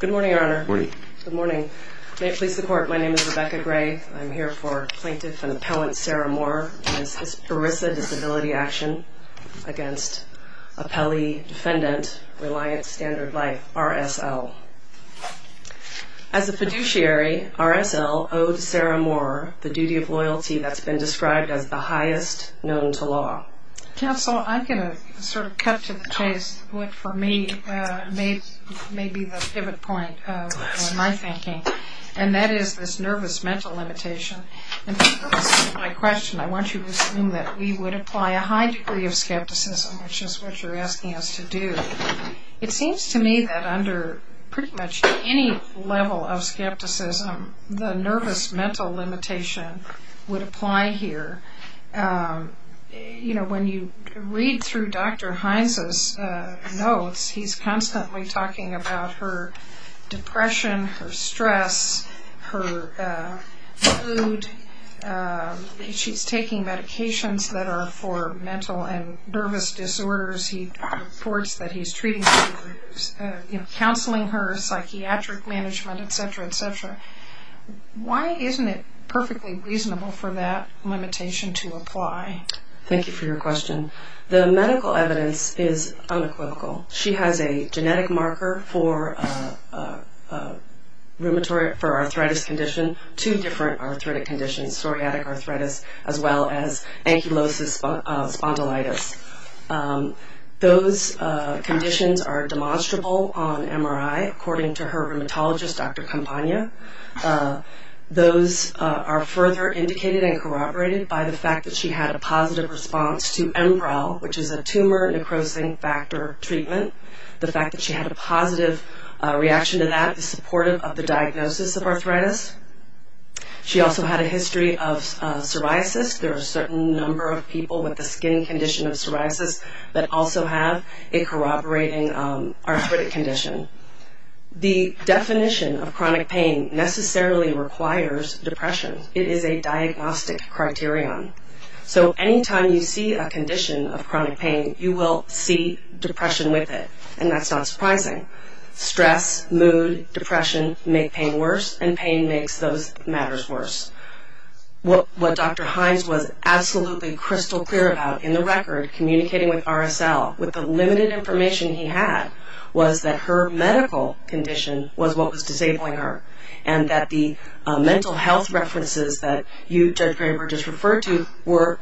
Good morning, Your Honor. Good morning. May it please the Court, my name is Rebecca Gray. I'm here for Plaintiff and Appellant Sarah Maurer v. ERISA Disability Action v. Appellee Defendant Reliance Standard Life, RSL. As a fiduciary, RSL owed Sarah Maurer the duty of loyalty that's been described as the highest known to law. Counsel, I'm going to sort of cut to the chase, what for me may be the pivot point of my thinking, and that is this nervous mental limitation. In response to my question, I want you to assume that we would apply a high degree of skepticism, which is what you're asking us to do. It seems to me that under pretty much any level of skepticism, the nervous mental limitation would apply here. When you read through Dr. Hines' notes, he's constantly talking about her depression, her stress, her mood, she's taking medications that are for mental and nervous disorders. He reports that he's treating her, counseling her, psychiatric management, etc., etc. Why isn't it perfectly reasonable for that limitation to apply? Thank you for your question. The medical evidence is unequivocal. She has a genetic marker for a rheumatoid arthritis condition, two different arthritic conditions, psoriatic arthritis as well as ankylosis spondylitis. Those conditions are demonstrable on MRI according to her rheumatologist, Dr. Campagna. Those are further indicated and corroborated by the fact that she had a positive response to MPRAL, which is a tumor necrosis factor treatment. The fact that she had a positive reaction to that is supportive of the diagnosis of arthritis. She also had a history of psoriasis. There are a certain number of people with a skin condition of psoriasis that also have a corroborating arthritic condition. The definition of chronic pain necessarily requires depression. It is a diagnostic criterion. Anytime you see a condition of chronic pain, you will see depression with it, and that's not surprising. Stress, mood, depression make pain worse, and pain makes those matters worse. What Dr. Hines was absolutely crystal clear about in the record, communicating with RSL with the limited information he had, was that her medical condition was what was disabling her. And that the mental health references that you, Judge Graber, just referred to were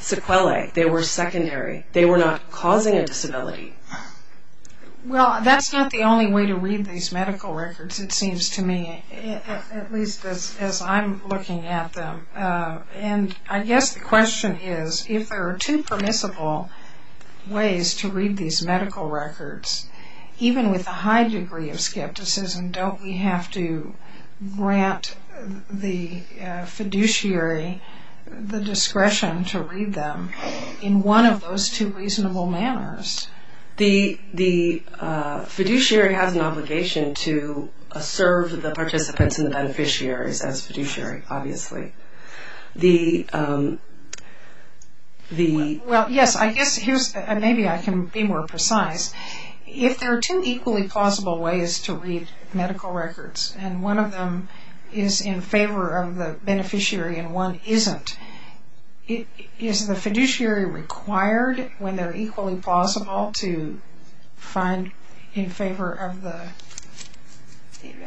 sequelae. They were secondary. They were not causing a disability. Well, that's not the only way to read these medical records, it seems to me, at least as I'm looking at them. I guess the question is, if there are two permissible ways to read these medical records, even with a high degree of skepticism, don't we have to grant the fiduciary the discretion to read them in one of those two reasonable manners? The fiduciary has an obligation to serve the participants and the beneficiaries as fiduciary, obviously. Well, yes, maybe I can be more precise. If there are two equally plausible ways to read medical records, and one of them is in favor of the beneficiary and one isn't, is the fiduciary required, when they're equally plausible, to find in favor of the...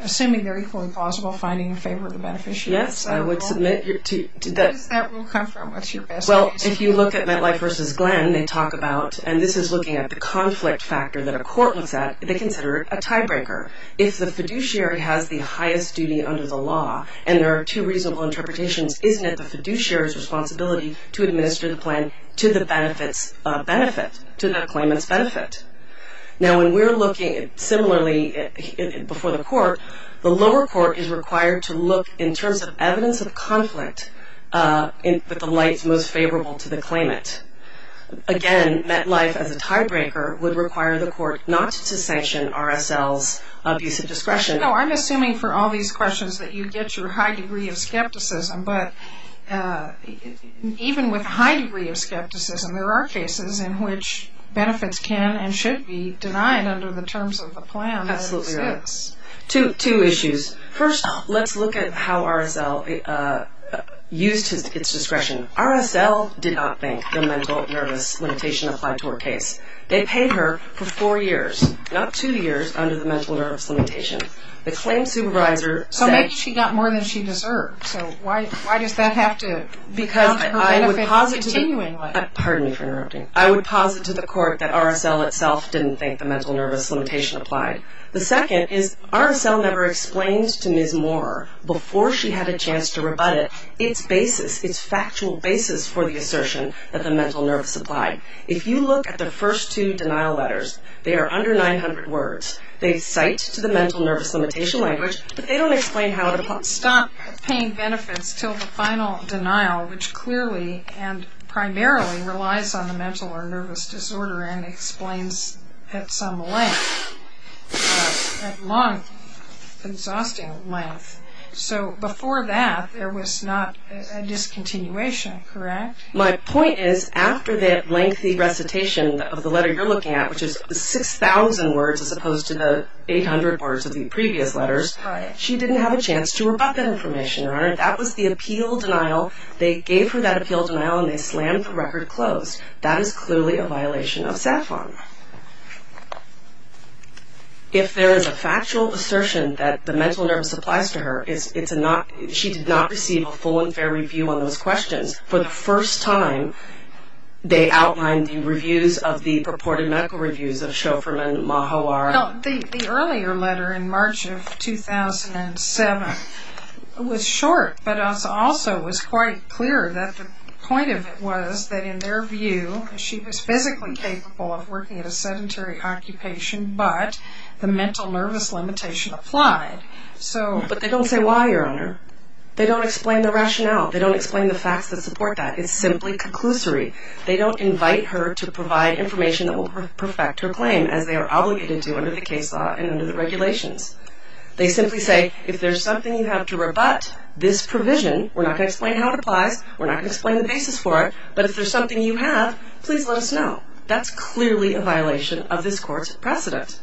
Assuming they're equally plausible, finding in favor of the beneficiary? Yes, I would submit... Where does that rule come from? What's your best guess? Well, if you look at MetLife v. Glenn, they talk about, and this is looking at the conflict factor that a court looks at, they consider it a tiebreaker. If the fiduciary has the highest duty under the law, and there are two reasonable interpretations, isn't it the fiduciary's responsibility to administer the plan to the claimant's benefit? Now, when we're looking similarly before the court, the lower court is required to look in terms of evidence of conflict with the lights most favorable to the claimant. Again, MetLife, as a tiebreaker, would require the court not to sanction RSL's abuse of discretion. No, I'm assuming for all these questions that you get your high degree of skepticism, but even with a high degree of skepticism, there are cases in which benefits can and should be denied under the terms of the plan. Absolutely right. Yes. Two issues. First, let's look at how RSL used its discretion. RSL did not think the mental nervous limitation applied to her case. They paid her for four years, not two years, under the mental nervous limitation. The claim supervisor said- So maybe she got more than she deserved, so why does that have to- Because I would posit- Continue in what? Pardon me for interrupting. I would posit to the court that RSL itself didn't think the mental nervous limitation applied. The second is RSL never explained to Ms. Moore before she had a chance to rebut it its basis, its factual basis for the assertion that the mental nervous applied. If you look at the first two denial letters, they are under 900 words. They cite to the mental nervous limitation language, but they don't explain how it applies. Stop paying benefits until the final denial, which clearly and primarily relies on the mental or nervous disorder and explains at some length, at long, exhausting length. So before that, there was not a discontinuation, correct? My point is, after that lengthy recitation of the letter you're looking at, which is 6,000 words as opposed to the 800 words of the previous letters, she didn't have a chance to rebut that information, Your Honor. That was the appeal denial. They gave her that appeal denial, and they slammed the record closed. That is clearly a violation of SAFON. If there is a factual assertion that the mental nervous applies to her, she did not receive a full and fair review on those questions. For the first time, they outlined the reviews of the purported medical reviews of Shoferman Mahawar. The earlier letter in March of 2007 was short, but also was quite clear that the point of it was that in their view, she was physically capable of working at a sedentary occupation, but the mental nervous limitation applied. But they don't say why, Your Honor. They don't explain the rationale. They don't explain the facts that support that. It's simply conclusory. They don't invite her to provide information that will perfect her claim, as they are obligated to under the case law and under the regulations. They simply say, if there's something you have to rebut this provision, we're not going to explain how it applies, we're not going to explain the basis for it, but if there's something you have, please let us know. That's clearly a violation of this court's precedent.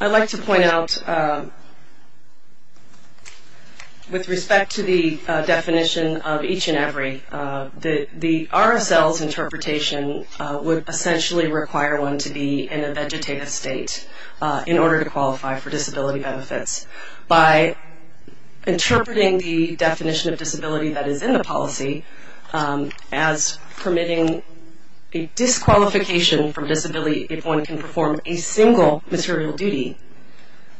I'd like to point out, with respect to the definition of each and every, the RSL's interpretation would essentially require one to be in a vegetative state in order to qualify for disability benefits. By interpreting the definition of disability that is in the policy as permitting a disqualification from disability if one can perform a single material duty,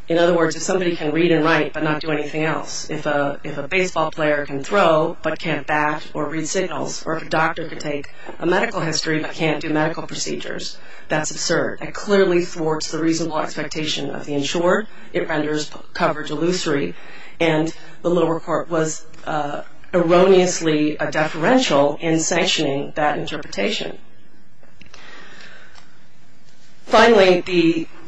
in other words, if somebody can read and write but not do anything else, if a baseball player can throw but can't bat or read signals, or if a doctor can take a medical history but can't do medical procedures. That's absurd. That clearly thwarts the reasonable expectation of the insured. It renders coverage illusory, and the lower court was erroneously a deferential in sanctioning that interpretation. Finally,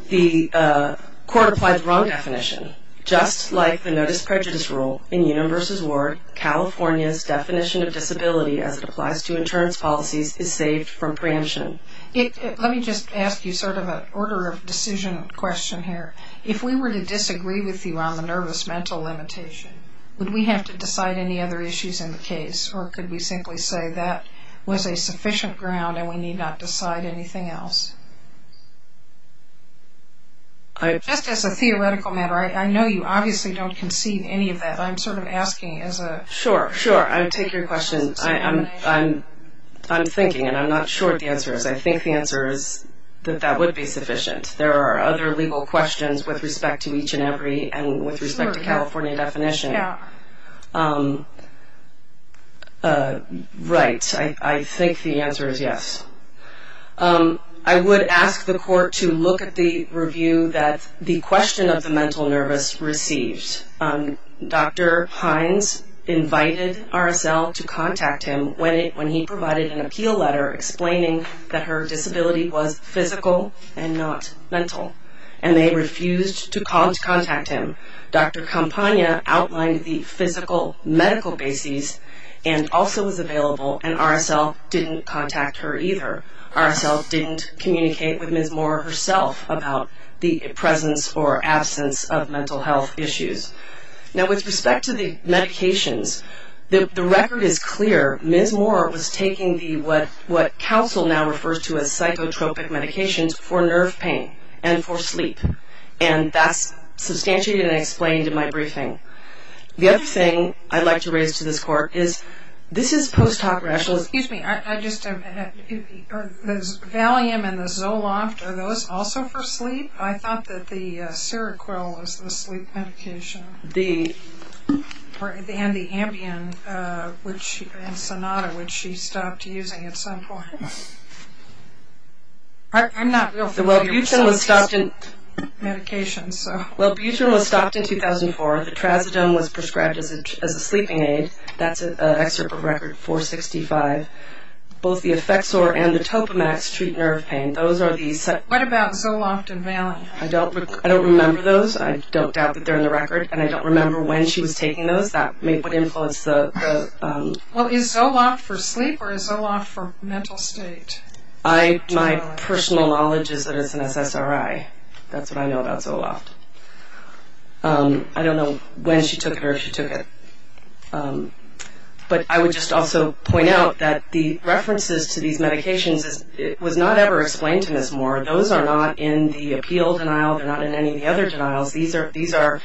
the court applied the wrong definition. Just like the notice prejudice rule, in Universal's word, California's definition of disability as it applies to insurance policies is saved from preemption. Let me just ask you sort of an order of decision question here. If we were to disagree with you on the nervous mental limitation, would we have to decide any other issues in the case, or could we simply say that was a sufficient ground and we need not decide anything else? Just as a theoretical matter, I know you obviously don't concede any of that. I'm sort of asking as a... Sure, sure. I take your question. I'm thinking, and I'm not sure what the answer is. I think the answer is that that would be sufficient. There are other legal questions with respect to each and every and with respect to California definition. Yeah. Right. I think the answer is yes. I would ask the court to look at the review that the question of the mental nervous received. Dr. Hines invited RSL to contact him when he provided an appeal letter explaining that her disability was physical and not mental, and they refused to contact him. Dr. Campagna outlined the physical medical bases and also was available, and RSL didn't contact her either. RSL didn't communicate with Ms. Moore herself about the presence or absence of mental health issues. Now, with respect to the medications, the record is clear. Ms. Moore was taking what counsel now refers to as psychotropic medications for nerve pain and for sleep, and that's substantiated and explained in my briefing. The other thing I'd like to raise to this court is this is post hoc rationales. Excuse me. Valium and the Zoloft, are those also for sleep? I thought that the Seroquel was the sleep medication. And the Ambien and Sonata, which she stopped using at some point. I'm not real familiar with some of these medications. Well, Buter was stopped in 2004. The Trazodone was prescribed as a sleeping aid. That's an excerpt of record 465. Both the Effexor and the Topamax treat nerve pain. What about Zoloft and Valium? I don't remember those. I don't doubt that they're in the record, and I don't remember when she was taking those. That would influence the... Well, is Zoloft for sleep or is Zoloft for mental state? My personal knowledge is that it's an SSRI. That's what I know about Zoloft. I don't know when she took it or if she took it. But I would just also point out that the references to these medications, it was not ever explained to Ms. Moore. Those are not in the appeal denial. They're not in any of the other denials. These are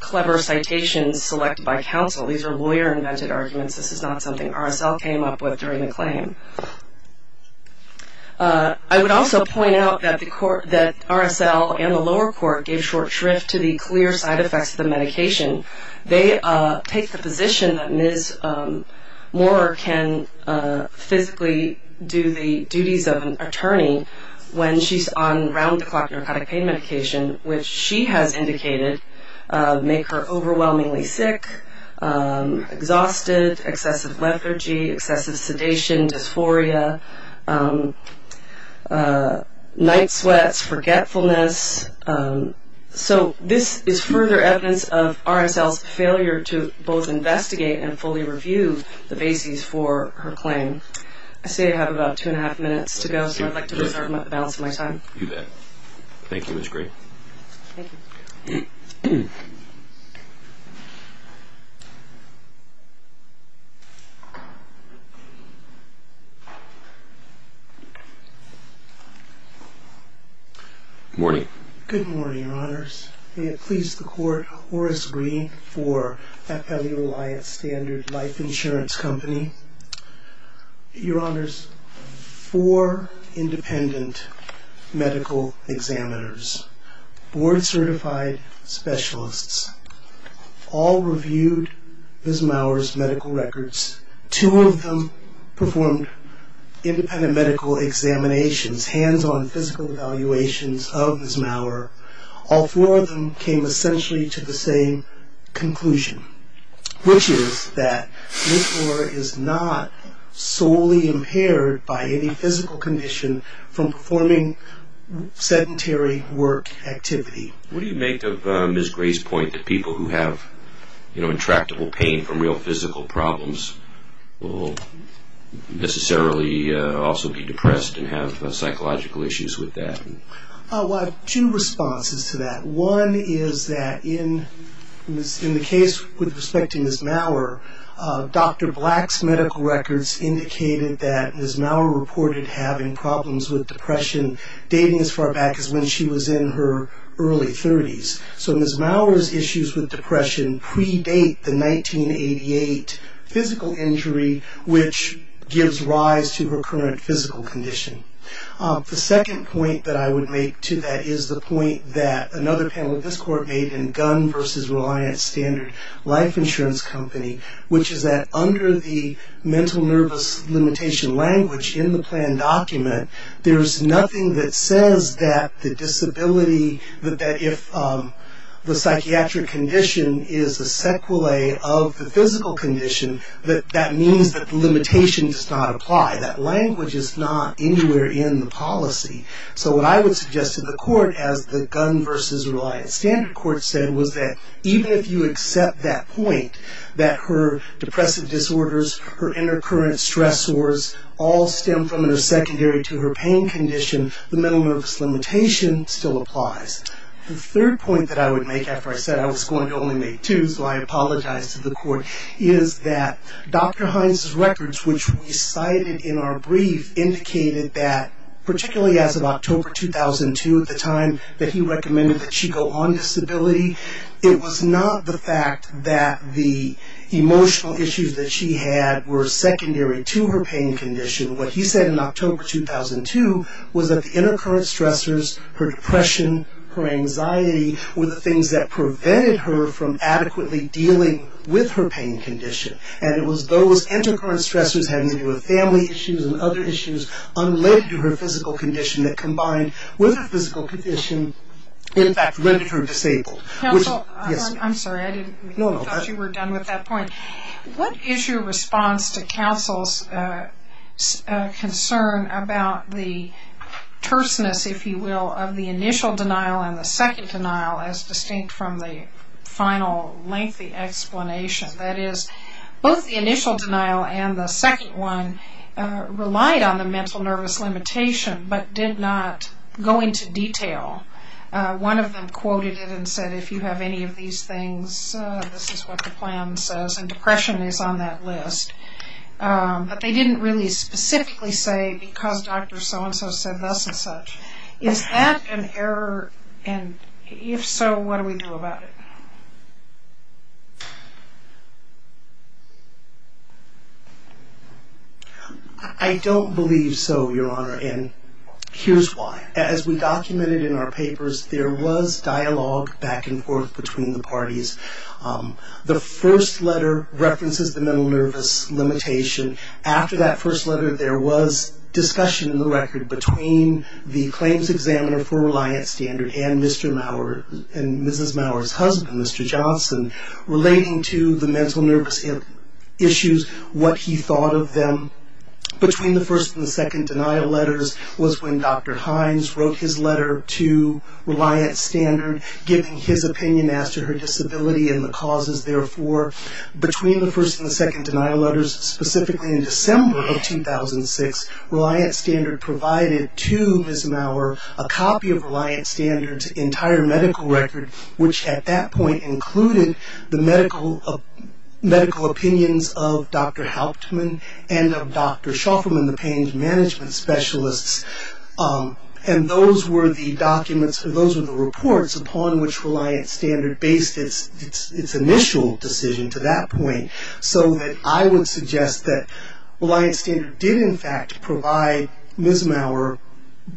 clever citations selected by counsel. These are lawyer-invented arguments. This is not something RSL came up with during the claim. I would also point out that RSL and the lower court gave short shrift to the clear side effects of the medication. They take the position that Ms. Moore can physically do the duties of an attorney when she's on round-the-clock narcotic pain medication, which she has indicated make her overwhelmingly sick, exhausted, excessive lethargy, excessive sedation, dysphoria, night sweats, forgetfulness. So this is further evidence of RSL's failure to both investigate and fully review the bases for her claim. I say I have about two and a half minutes to go, so I'd like to reserve the balance of my time. You bet. Thank you, Ms. Gray. Thank you. Good morning. Good morning, Your Honors. May it please the Court, Horace Green for FLE Reliance Standard Life Insurance Company. Your Honors, four independent medical examiners, board-certified specialists, all reviewed by an attorney, reviewed Ms. Maurer's medical records. Two of them performed independent medical examinations, hands-on physical evaluations of Ms. Maurer. All four of them came essentially to the same conclusion, which is that Ms. Moore is not solely impaired by any physical condition from performing sedentary work activity. What do you make of Ms. Gray's point that people who have, you know, intractable pain from real physical problems will necessarily also be depressed and have psychological issues with that? Well, I have two responses to that. One is that in the case with respect to Ms. Maurer, Dr. Black's medical records indicated that Ms. Maurer reported having problems with depression dating as far back as when she was in her early 30s. So Ms. Maurer's issues with depression predate the 1988 physical injury, which gives rise to her current physical condition. The second point that I would make to that is the point that another panel of this Court made in Gunn v. Reliance Standard Life Insurance Company, which is that under the mental nervous limitation language in the plan document, there's nothing that says that the disability, that if the psychiatric condition is a sequelae of the physical condition, that that means that the limitation does not apply. That language is not anywhere in the policy. So what I would suggest to the Court as the Gunn v. Reliance Standard Court said was that even if you accept that point, that her depressive disorders, her intercurrent stress sores all stem from her secondary to her pain condition, the mental nervous limitation still applies. The third point that I would make, after I said I was going to only make two, so I apologize to the Court, is that Dr. Hines' records, which we cited in our brief, indicated that, particularly as of October 2002 at the time, that he recommended that she go on disability. It was not the fact that the emotional issues that she had were secondary to her pain condition. What he said in October 2002 was that the intercurrent stressors, her depression, her anxiety, were the things that prevented her from adequately dealing with her pain condition. And it was those intercurrent stressors, having to do with family issues and other issues, unrelated to her physical condition, that combined with her physical condition, in fact, rendered her disabled. Counsel, I'm sorry, I thought you were done with that point. What is your response to counsel's concern about the terseness, if you will, of the initial denial and the second denial, as distinct from the final lengthy explanation? That is, both the initial denial and the second one relied on the mental nervous limitation but did not go into detail. One of them quoted it and said, if you have any of these things, this is what the plan says, and depression is on that list. But they didn't really specifically say, because Dr. So-and-so said thus and such. Is that an error, and if so, what do we do about it? I don't believe so, Your Honor, and here's why. As we documented in our papers, there was dialogue back and forth between the parties. The first letter references the mental nervous limitation. After that first letter, there was discussion in the record between the claims examiner for Reliance Standard and Mrs. Maurer's husband, Mr. Johnson, relating to the mental nervous issues, what he thought of them. Between the first and the second denial letters was when Dr. Hines wrote his letter to Reliance Standard, giving his opinion as to her disability and the causes therefore. Between the first and the second denial letters, specifically in December of 2006, Reliance Standard provided to Mrs. Maurer a copy of Reliance Standard's entire medical record, which at that point included the medical opinions of Dr. Hauptman and of Dr. Shofferman, the pain management specialists, and those were the documents, or those were the reports upon which Reliance Standard based its initial decision to that point. So that I would suggest that Reliance Standard did in fact provide Mrs. Maurer,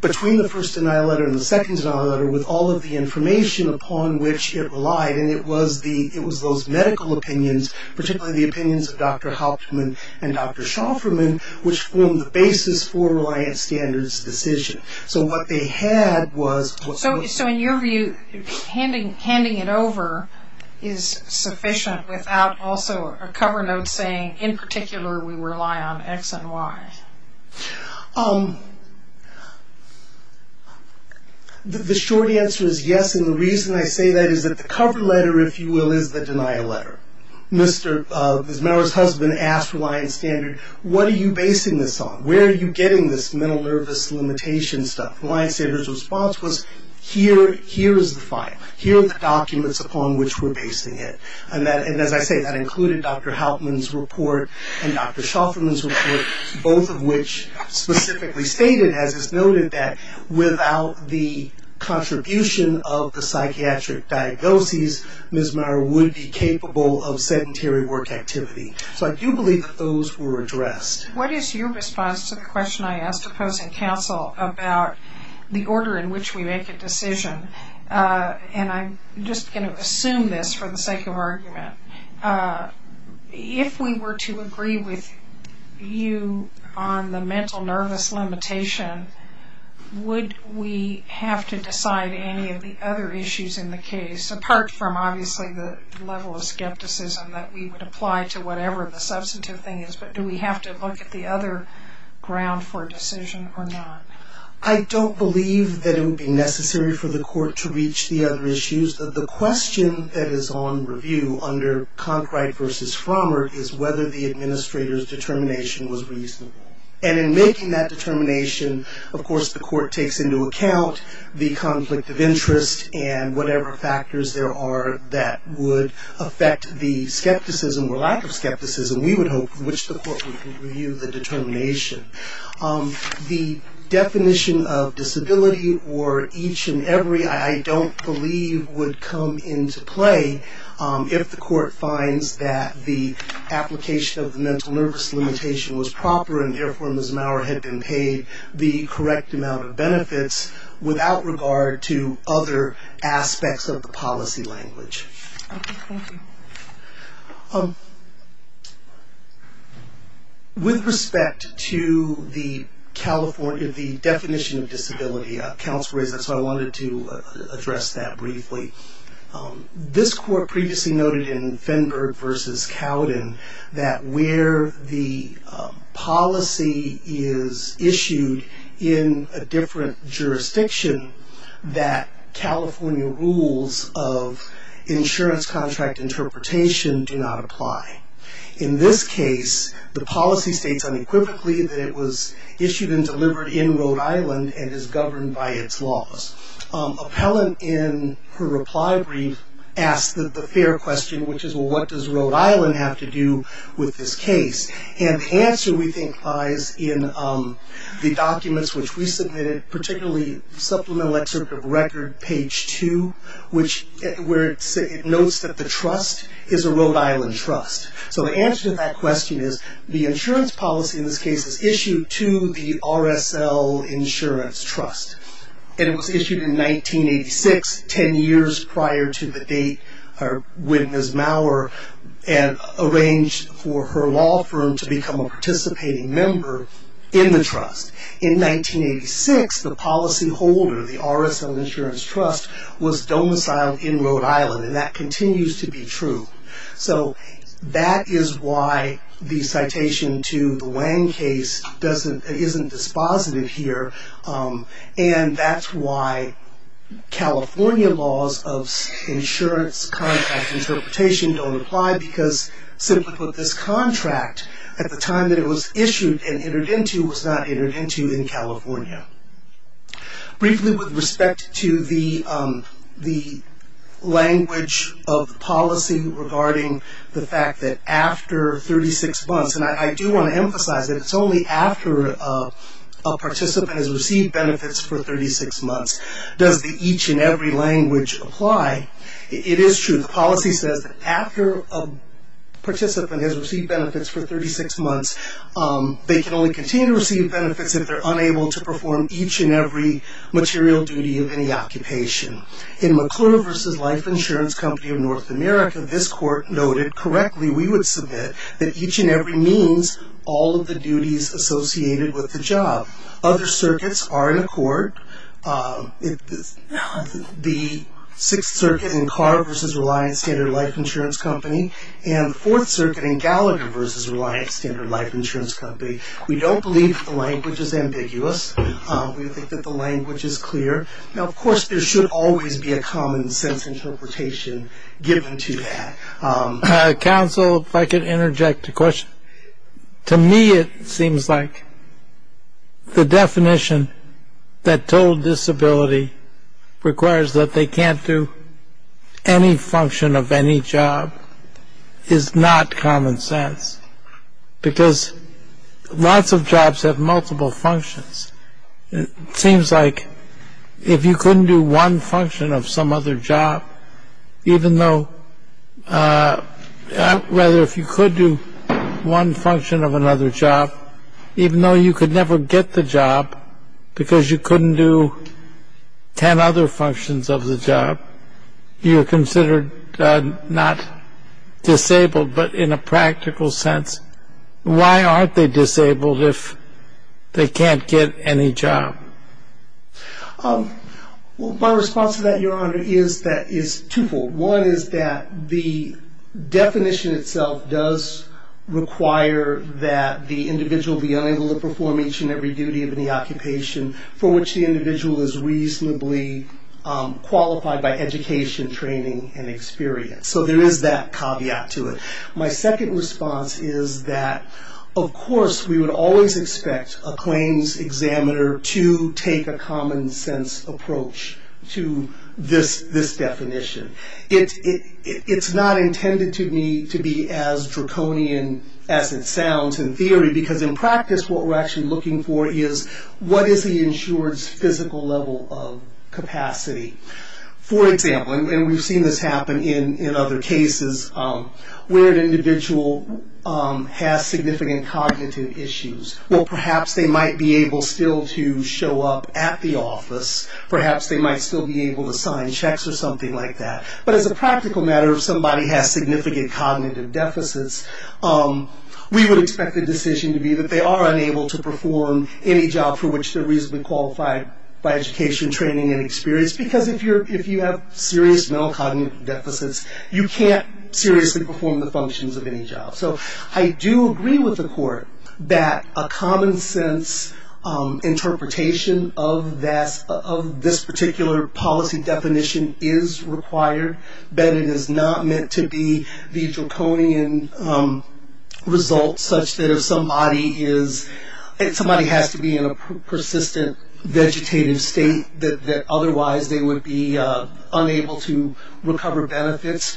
between the first denial letter and the second denial letter, with all of the information upon which it relied, and it was those medical opinions, particularly the opinions of Dr. Hauptman and Dr. Shofferman, which formed the basis for Reliance Standard's decision. So what they had was... So in your view, handing it over is sufficient without also a cover note saying, in particular, we rely on X and Y? The short answer is yes, and the reason I say that is that the cover letter, if you will, is the denial letter. Mrs. Maurer's husband asked Reliance Standard, what are you basing this on? Where are you getting this mental nervous limitation stuff? Reliance Standard's response was, here is the file. Here are the documents upon which we're basing it. And as I say, that included Dr. Hauptman's report and Dr. Shofferman's report, both of which specifically stated, as is noted, that without the contribution of the psychiatric diagnoses, Mrs. Maurer would be capable of sedentary work activity. So I do believe that those were addressed. What is your response to the question I asked opposing counsel about the order in which we make a decision? And I'm just going to assume this for the sake of argument. If we were to agree with you on the mental nervous limitation, would we have to decide any of the other issues in the case, apart from obviously the level of skepticism that we would apply to whatever the substantive thing is, but do we have to look at the other ground for a decision or not? I don't believe that it would be necessary for the court to reach the other issues. The question that is on review under Conkright v. Frommer is whether the administrator's determination was reasonable. And in making that determination, of course, the court takes into account the conflict of interest and whatever factors there are that would affect the skepticism or lack of skepticism, we would hope, from which the court would review the determination. The definition of disability or each and every, I don't believe, would come into play if the court finds that the application of the mental nervous limitation was proper and therefore Ms. Maurer had been paid the correct amount of benefits without regard to other aspects of the policy language. Okay, thank you. With respect to the definition of disability, counsel raised that so I wanted to address that briefly. This court previously noted in Fenberg v. Cowden that where the policy is issued in a different jurisdiction that California rules of insurance contract interpretation do not apply. In this case, the policy states unequivocally that it was issued and delivered in Rhode Island and is governed by its laws. Appellant in her reply brief asked the fair question, which is, well, what does Rhode Island have to do with this case? And the answer, we think, lies in the documents which we submitted, particularly Supplemental Excerpt of Record, page 2, where it notes that the trust is a Rhode Island trust. So the answer to that question is the insurance policy in this case is issued to the RSL Insurance Trust. And it was issued in 1986, 10 years prior to the date when Ms. Maurer had arranged for her law firm to become a participating member in the trust. In 1986, the policyholder, the RSL Insurance Trust, was domiciled in Rhode Island, and that continues to be true. So that is why the citation to the Wang case isn't dispositive here, and that's why California laws of insurance contract interpretation don't apply, because, simply put, this contract, at the time that it was issued and entered into, was not entered into in California. Briefly with respect to the language of the policy regarding the fact that after 36 months, and I do want to emphasize that it's only after a participant has received benefits for 36 months, does the each and every language apply. It is true. The policy says that after a participant has received benefits for 36 months, they can only continue to receive benefits if they're unable to perform each and every material duty of any occupation. In McClure v. Life Insurance Company of North America, this court noted correctly, we would submit, that each and every means all of the duties associated with the job. Other circuits are in accord. The Sixth Circuit in Carr v. Reliant Standard Life Insurance Company, and the Fourth Circuit in Gallagher v. Reliant Standard Life Insurance Company. We don't believe the language is ambiguous. We think that the language is clear. Now, of course, there should always be a common sense interpretation given to that. Counsel, if I could interject a question. To me, it seems like the definition that total disability requires that they can't do any function of any job is not common sense because lots of jobs have multiple functions. It seems like if you couldn't do one function of some other job, even though, rather, if you could do one function of another job, even though you could never get the job because you couldn't do ten other functions of the job, you're considered not disabled, but in a practical sense, why aren't they disabled if they can't get any job? My response to that, Your Honor, is twofold. One is that the definition itself does require that the individual be unable to perform each and every duty of any occupation for which the individual is reasonably qualified by education, training, and experience. So there is that caveat to it. My second response is that, of course, we would always expect a claims examiner to take a common sense approach to this definition. It's not intended to be as draconian as it sounds in theory because, in practice, what we're actually looking for is what is the insured's physical level of capacity. For example, and we've seen this happen in other cases, where an individual has significant cognitive issues. Well, perhaps they might be able still to show up at the office. Perhaps they might still be able to sign checks or something like that. But as a practical matter, if somebody has significant cognitive deficits, we would expect the decision to be that they are unable to perform any job for which they're reasonably qualified by education, training, and experience because if you have serious mental cognitive deficits, you can't seriously perform the functions of any job. So I do agree with the court that a common sense interpretation of this particular policy definition is required. But it is not meant to be the draconian result such that if somebody is, if somebody has to be in a persistent vegetative state, that otherwise they would be unable to recover benefits.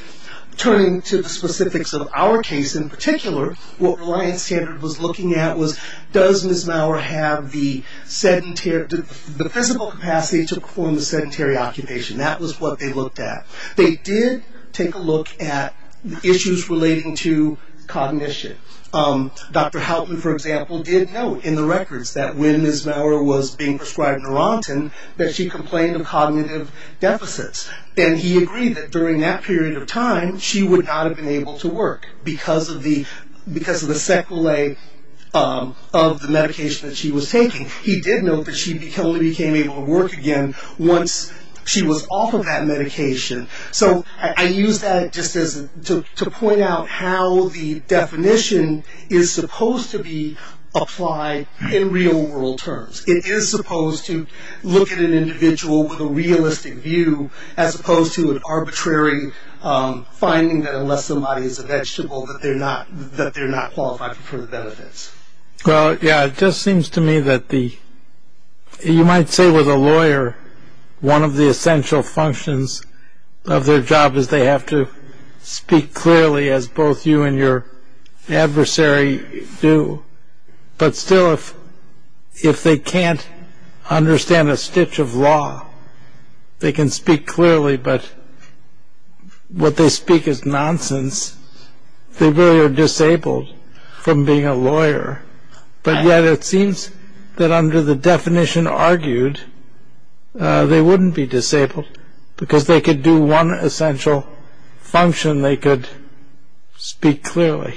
Turning to the specifics of our case in particular, what Reliance Standard was looking at was, does Ms. Maurer have the physical capacity to perform the sedentary occupation? That was what they looked at. They did take a look at issues relating to cognition. Dr. Halton, for example, did note in the records that when Ms. Maurer was being prescribed Neurontin, that she complained of cognitive deficits. And he agreed that during that period of time, she would not have been able to work because of the sequelae of the medication that she was taking. He did note that she only became able to work again once she was off of that medication. So I use that just to point out how the definition is supposed to be applied in real-world terms. It is supposed to look at an individual with a realistic view as opposed to an arbitrary finding that unless somebody is a vegetable that they're not qualified for the benefits. It just seems to me that you might say with a lawyer, one of the essential functions of their job is they have to speak clearly as both you and your adversary do. But still, if they can't understand a stitch of law, they can speak clearly, but what they speak is nonsense. They really are disabled from being a lawyer. But yet it seems that under the definition argued, they wouldn't be disabled because they could do one essential function, they could speak clearly.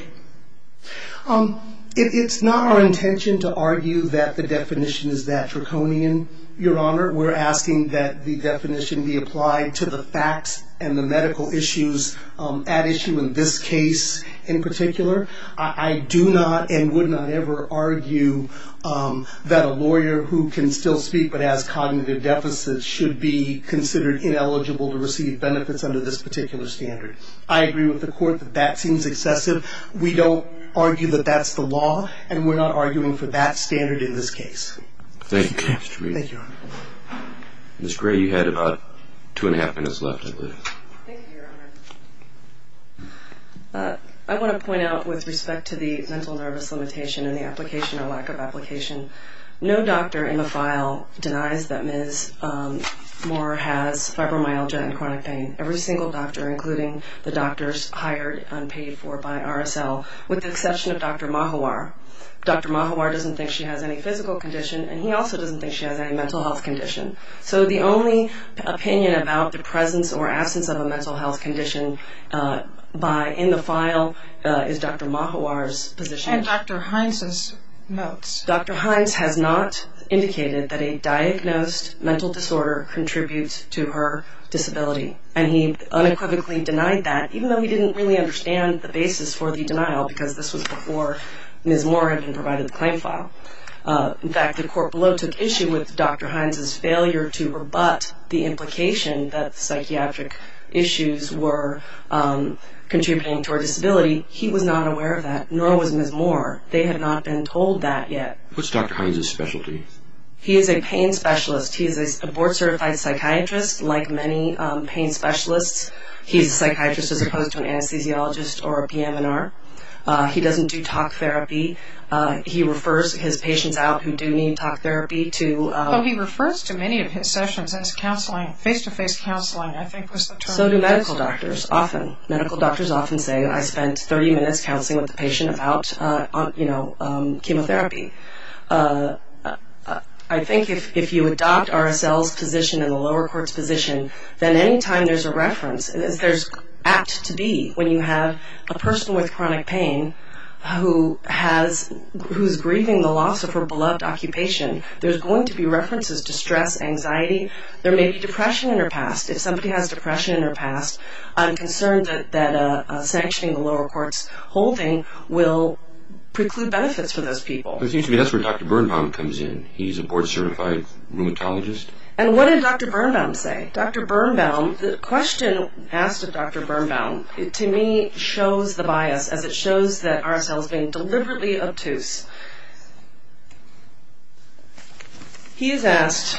It's not our intention to argue that the definition is that draconian, Your Honor. We're asking that the definition be applied to the facts and the medical issues at issue in this case in particular. I do not and would not ever argue that a lawyer who can still speak but has cognitive deficits should be considered ineligible to receive benefits under this particular standard. I agree with the Court that that seems excessive. We don't argue that that's the law, and we're not arguing for that standard in this case. Thank you. Thank you, Your Honor. Ms. Gray, you had about two and a half minutes left, I believe. Thank you, Your Honor. I want to point out with respect to the mental nervous limitation and the application or lack of application, no doctor in the file denies that Ms. Moore has fibromyalgia and chronic pain. Every single doctor, including the doctors hired and paid for by RSL, with the exception of Dr. Mahawar. Dr. Mahawar doesn't think she has any physical condition, and he also doesn't think she has any mental health condition. So the only opinion about the presence or absence of a mental health condition in the file is Dr. Mahawar's position. And Dr. Hines's notes. Dr. Hines has not indicated that a diagnosed mental disorder contributes to her disability, and he unequivocally denied that, even though we didn't really understand the basis for the denial because this was before Ms. Moore had been provided the claim file. In fact, the court below took issue with Dr. Hines's failure to rebut the implication that psychiatric issues were contributing to her disability. He was not aware of that, nor was Ms. Moore. They had not been told that yet. What's Dr. Hines's specialty? He is a pain specialist. He is a board-certified psychiatrist, like many pain specialists. He is a psychiatrist as opposed to an anesthesiologist or a PM&R. He doesn't do talk therapy. He refers his patients out who do need talk therapy to... Oh, he refers to many of his sessions as counseling, face-to-face counseling, I think was the term. So do medical doctors, often. Medical doctors often say, I spent 30 minutes counseling with a patient about, you know, chemotherapy. I think if you adopt RSL's position and the lower court's position, then any time there's a reference, as there's apt to be, when you have a person with chronic pain who's grieving the loss of her beloved occupation, there's going to be references to stress, anxiety. There may be depression in her past. If somebody has depression in her past, I'm concerned that sanctioning the lower court's holding will preclude benefits for those people. It seems to me that's where Dr. Birnbaum comes in. He's a board-certified rheumatologist. And what did Dr. Birnbaum say? Dr. Birnbaum, the question asked of Dr. Birnbaum, to me, shows the bias, as it shows that RSL is being deliberately obtuse. He's asked...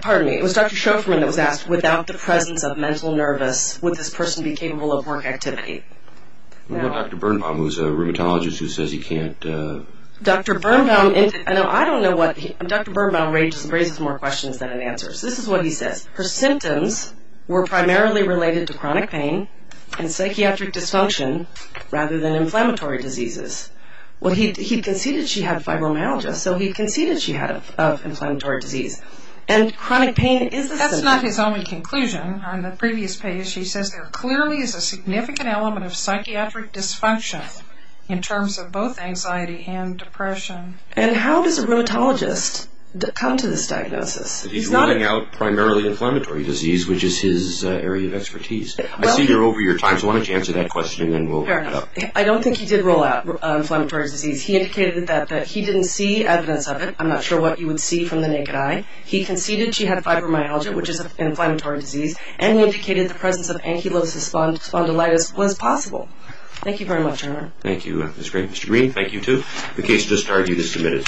Pardon me, it was Dr. Schoferman that was asked, without the presence of mental nervous, would this person be capable of work activity? Well, Dr. Birnbaum was a rheumatologist who says he can't... Dr. Birnbaum, I don't know what... Dr. Birnbaum raises more questions than answers. This is what he says. Her symptoms were primarily related to chronic pain and psychiatric dysfunction rather than inflammatory diseases. Well, he conceded she had fibromyalgia, so he conceded she had inflammatory disease. And chronic pain is a symptom. That's not his only conclusion. On the previous page, he says there clearly is a significant element of psychiatric dysfunction in terms of both anxiety and depression. And how does a rheumatologist come to this diagnosis? He's ruling out primarily inflammatory disease, which is his area of expertise. I see you're over your time, so why don't you answer that question and then we'll wrap it up. I don't think he did rule out inflammatory disease. He indicated that he didn't see evidence of it. I'm not sure what you would see from the naked eye. He conceded she had fibromyalgia, which is an inflammatory disease, and he indicated the presence of ankylosing spondylitis was possible. Thank you very much, Herman. Thank you, Ms. Green. Mr. Green, thank you too. The case just argued is submitted.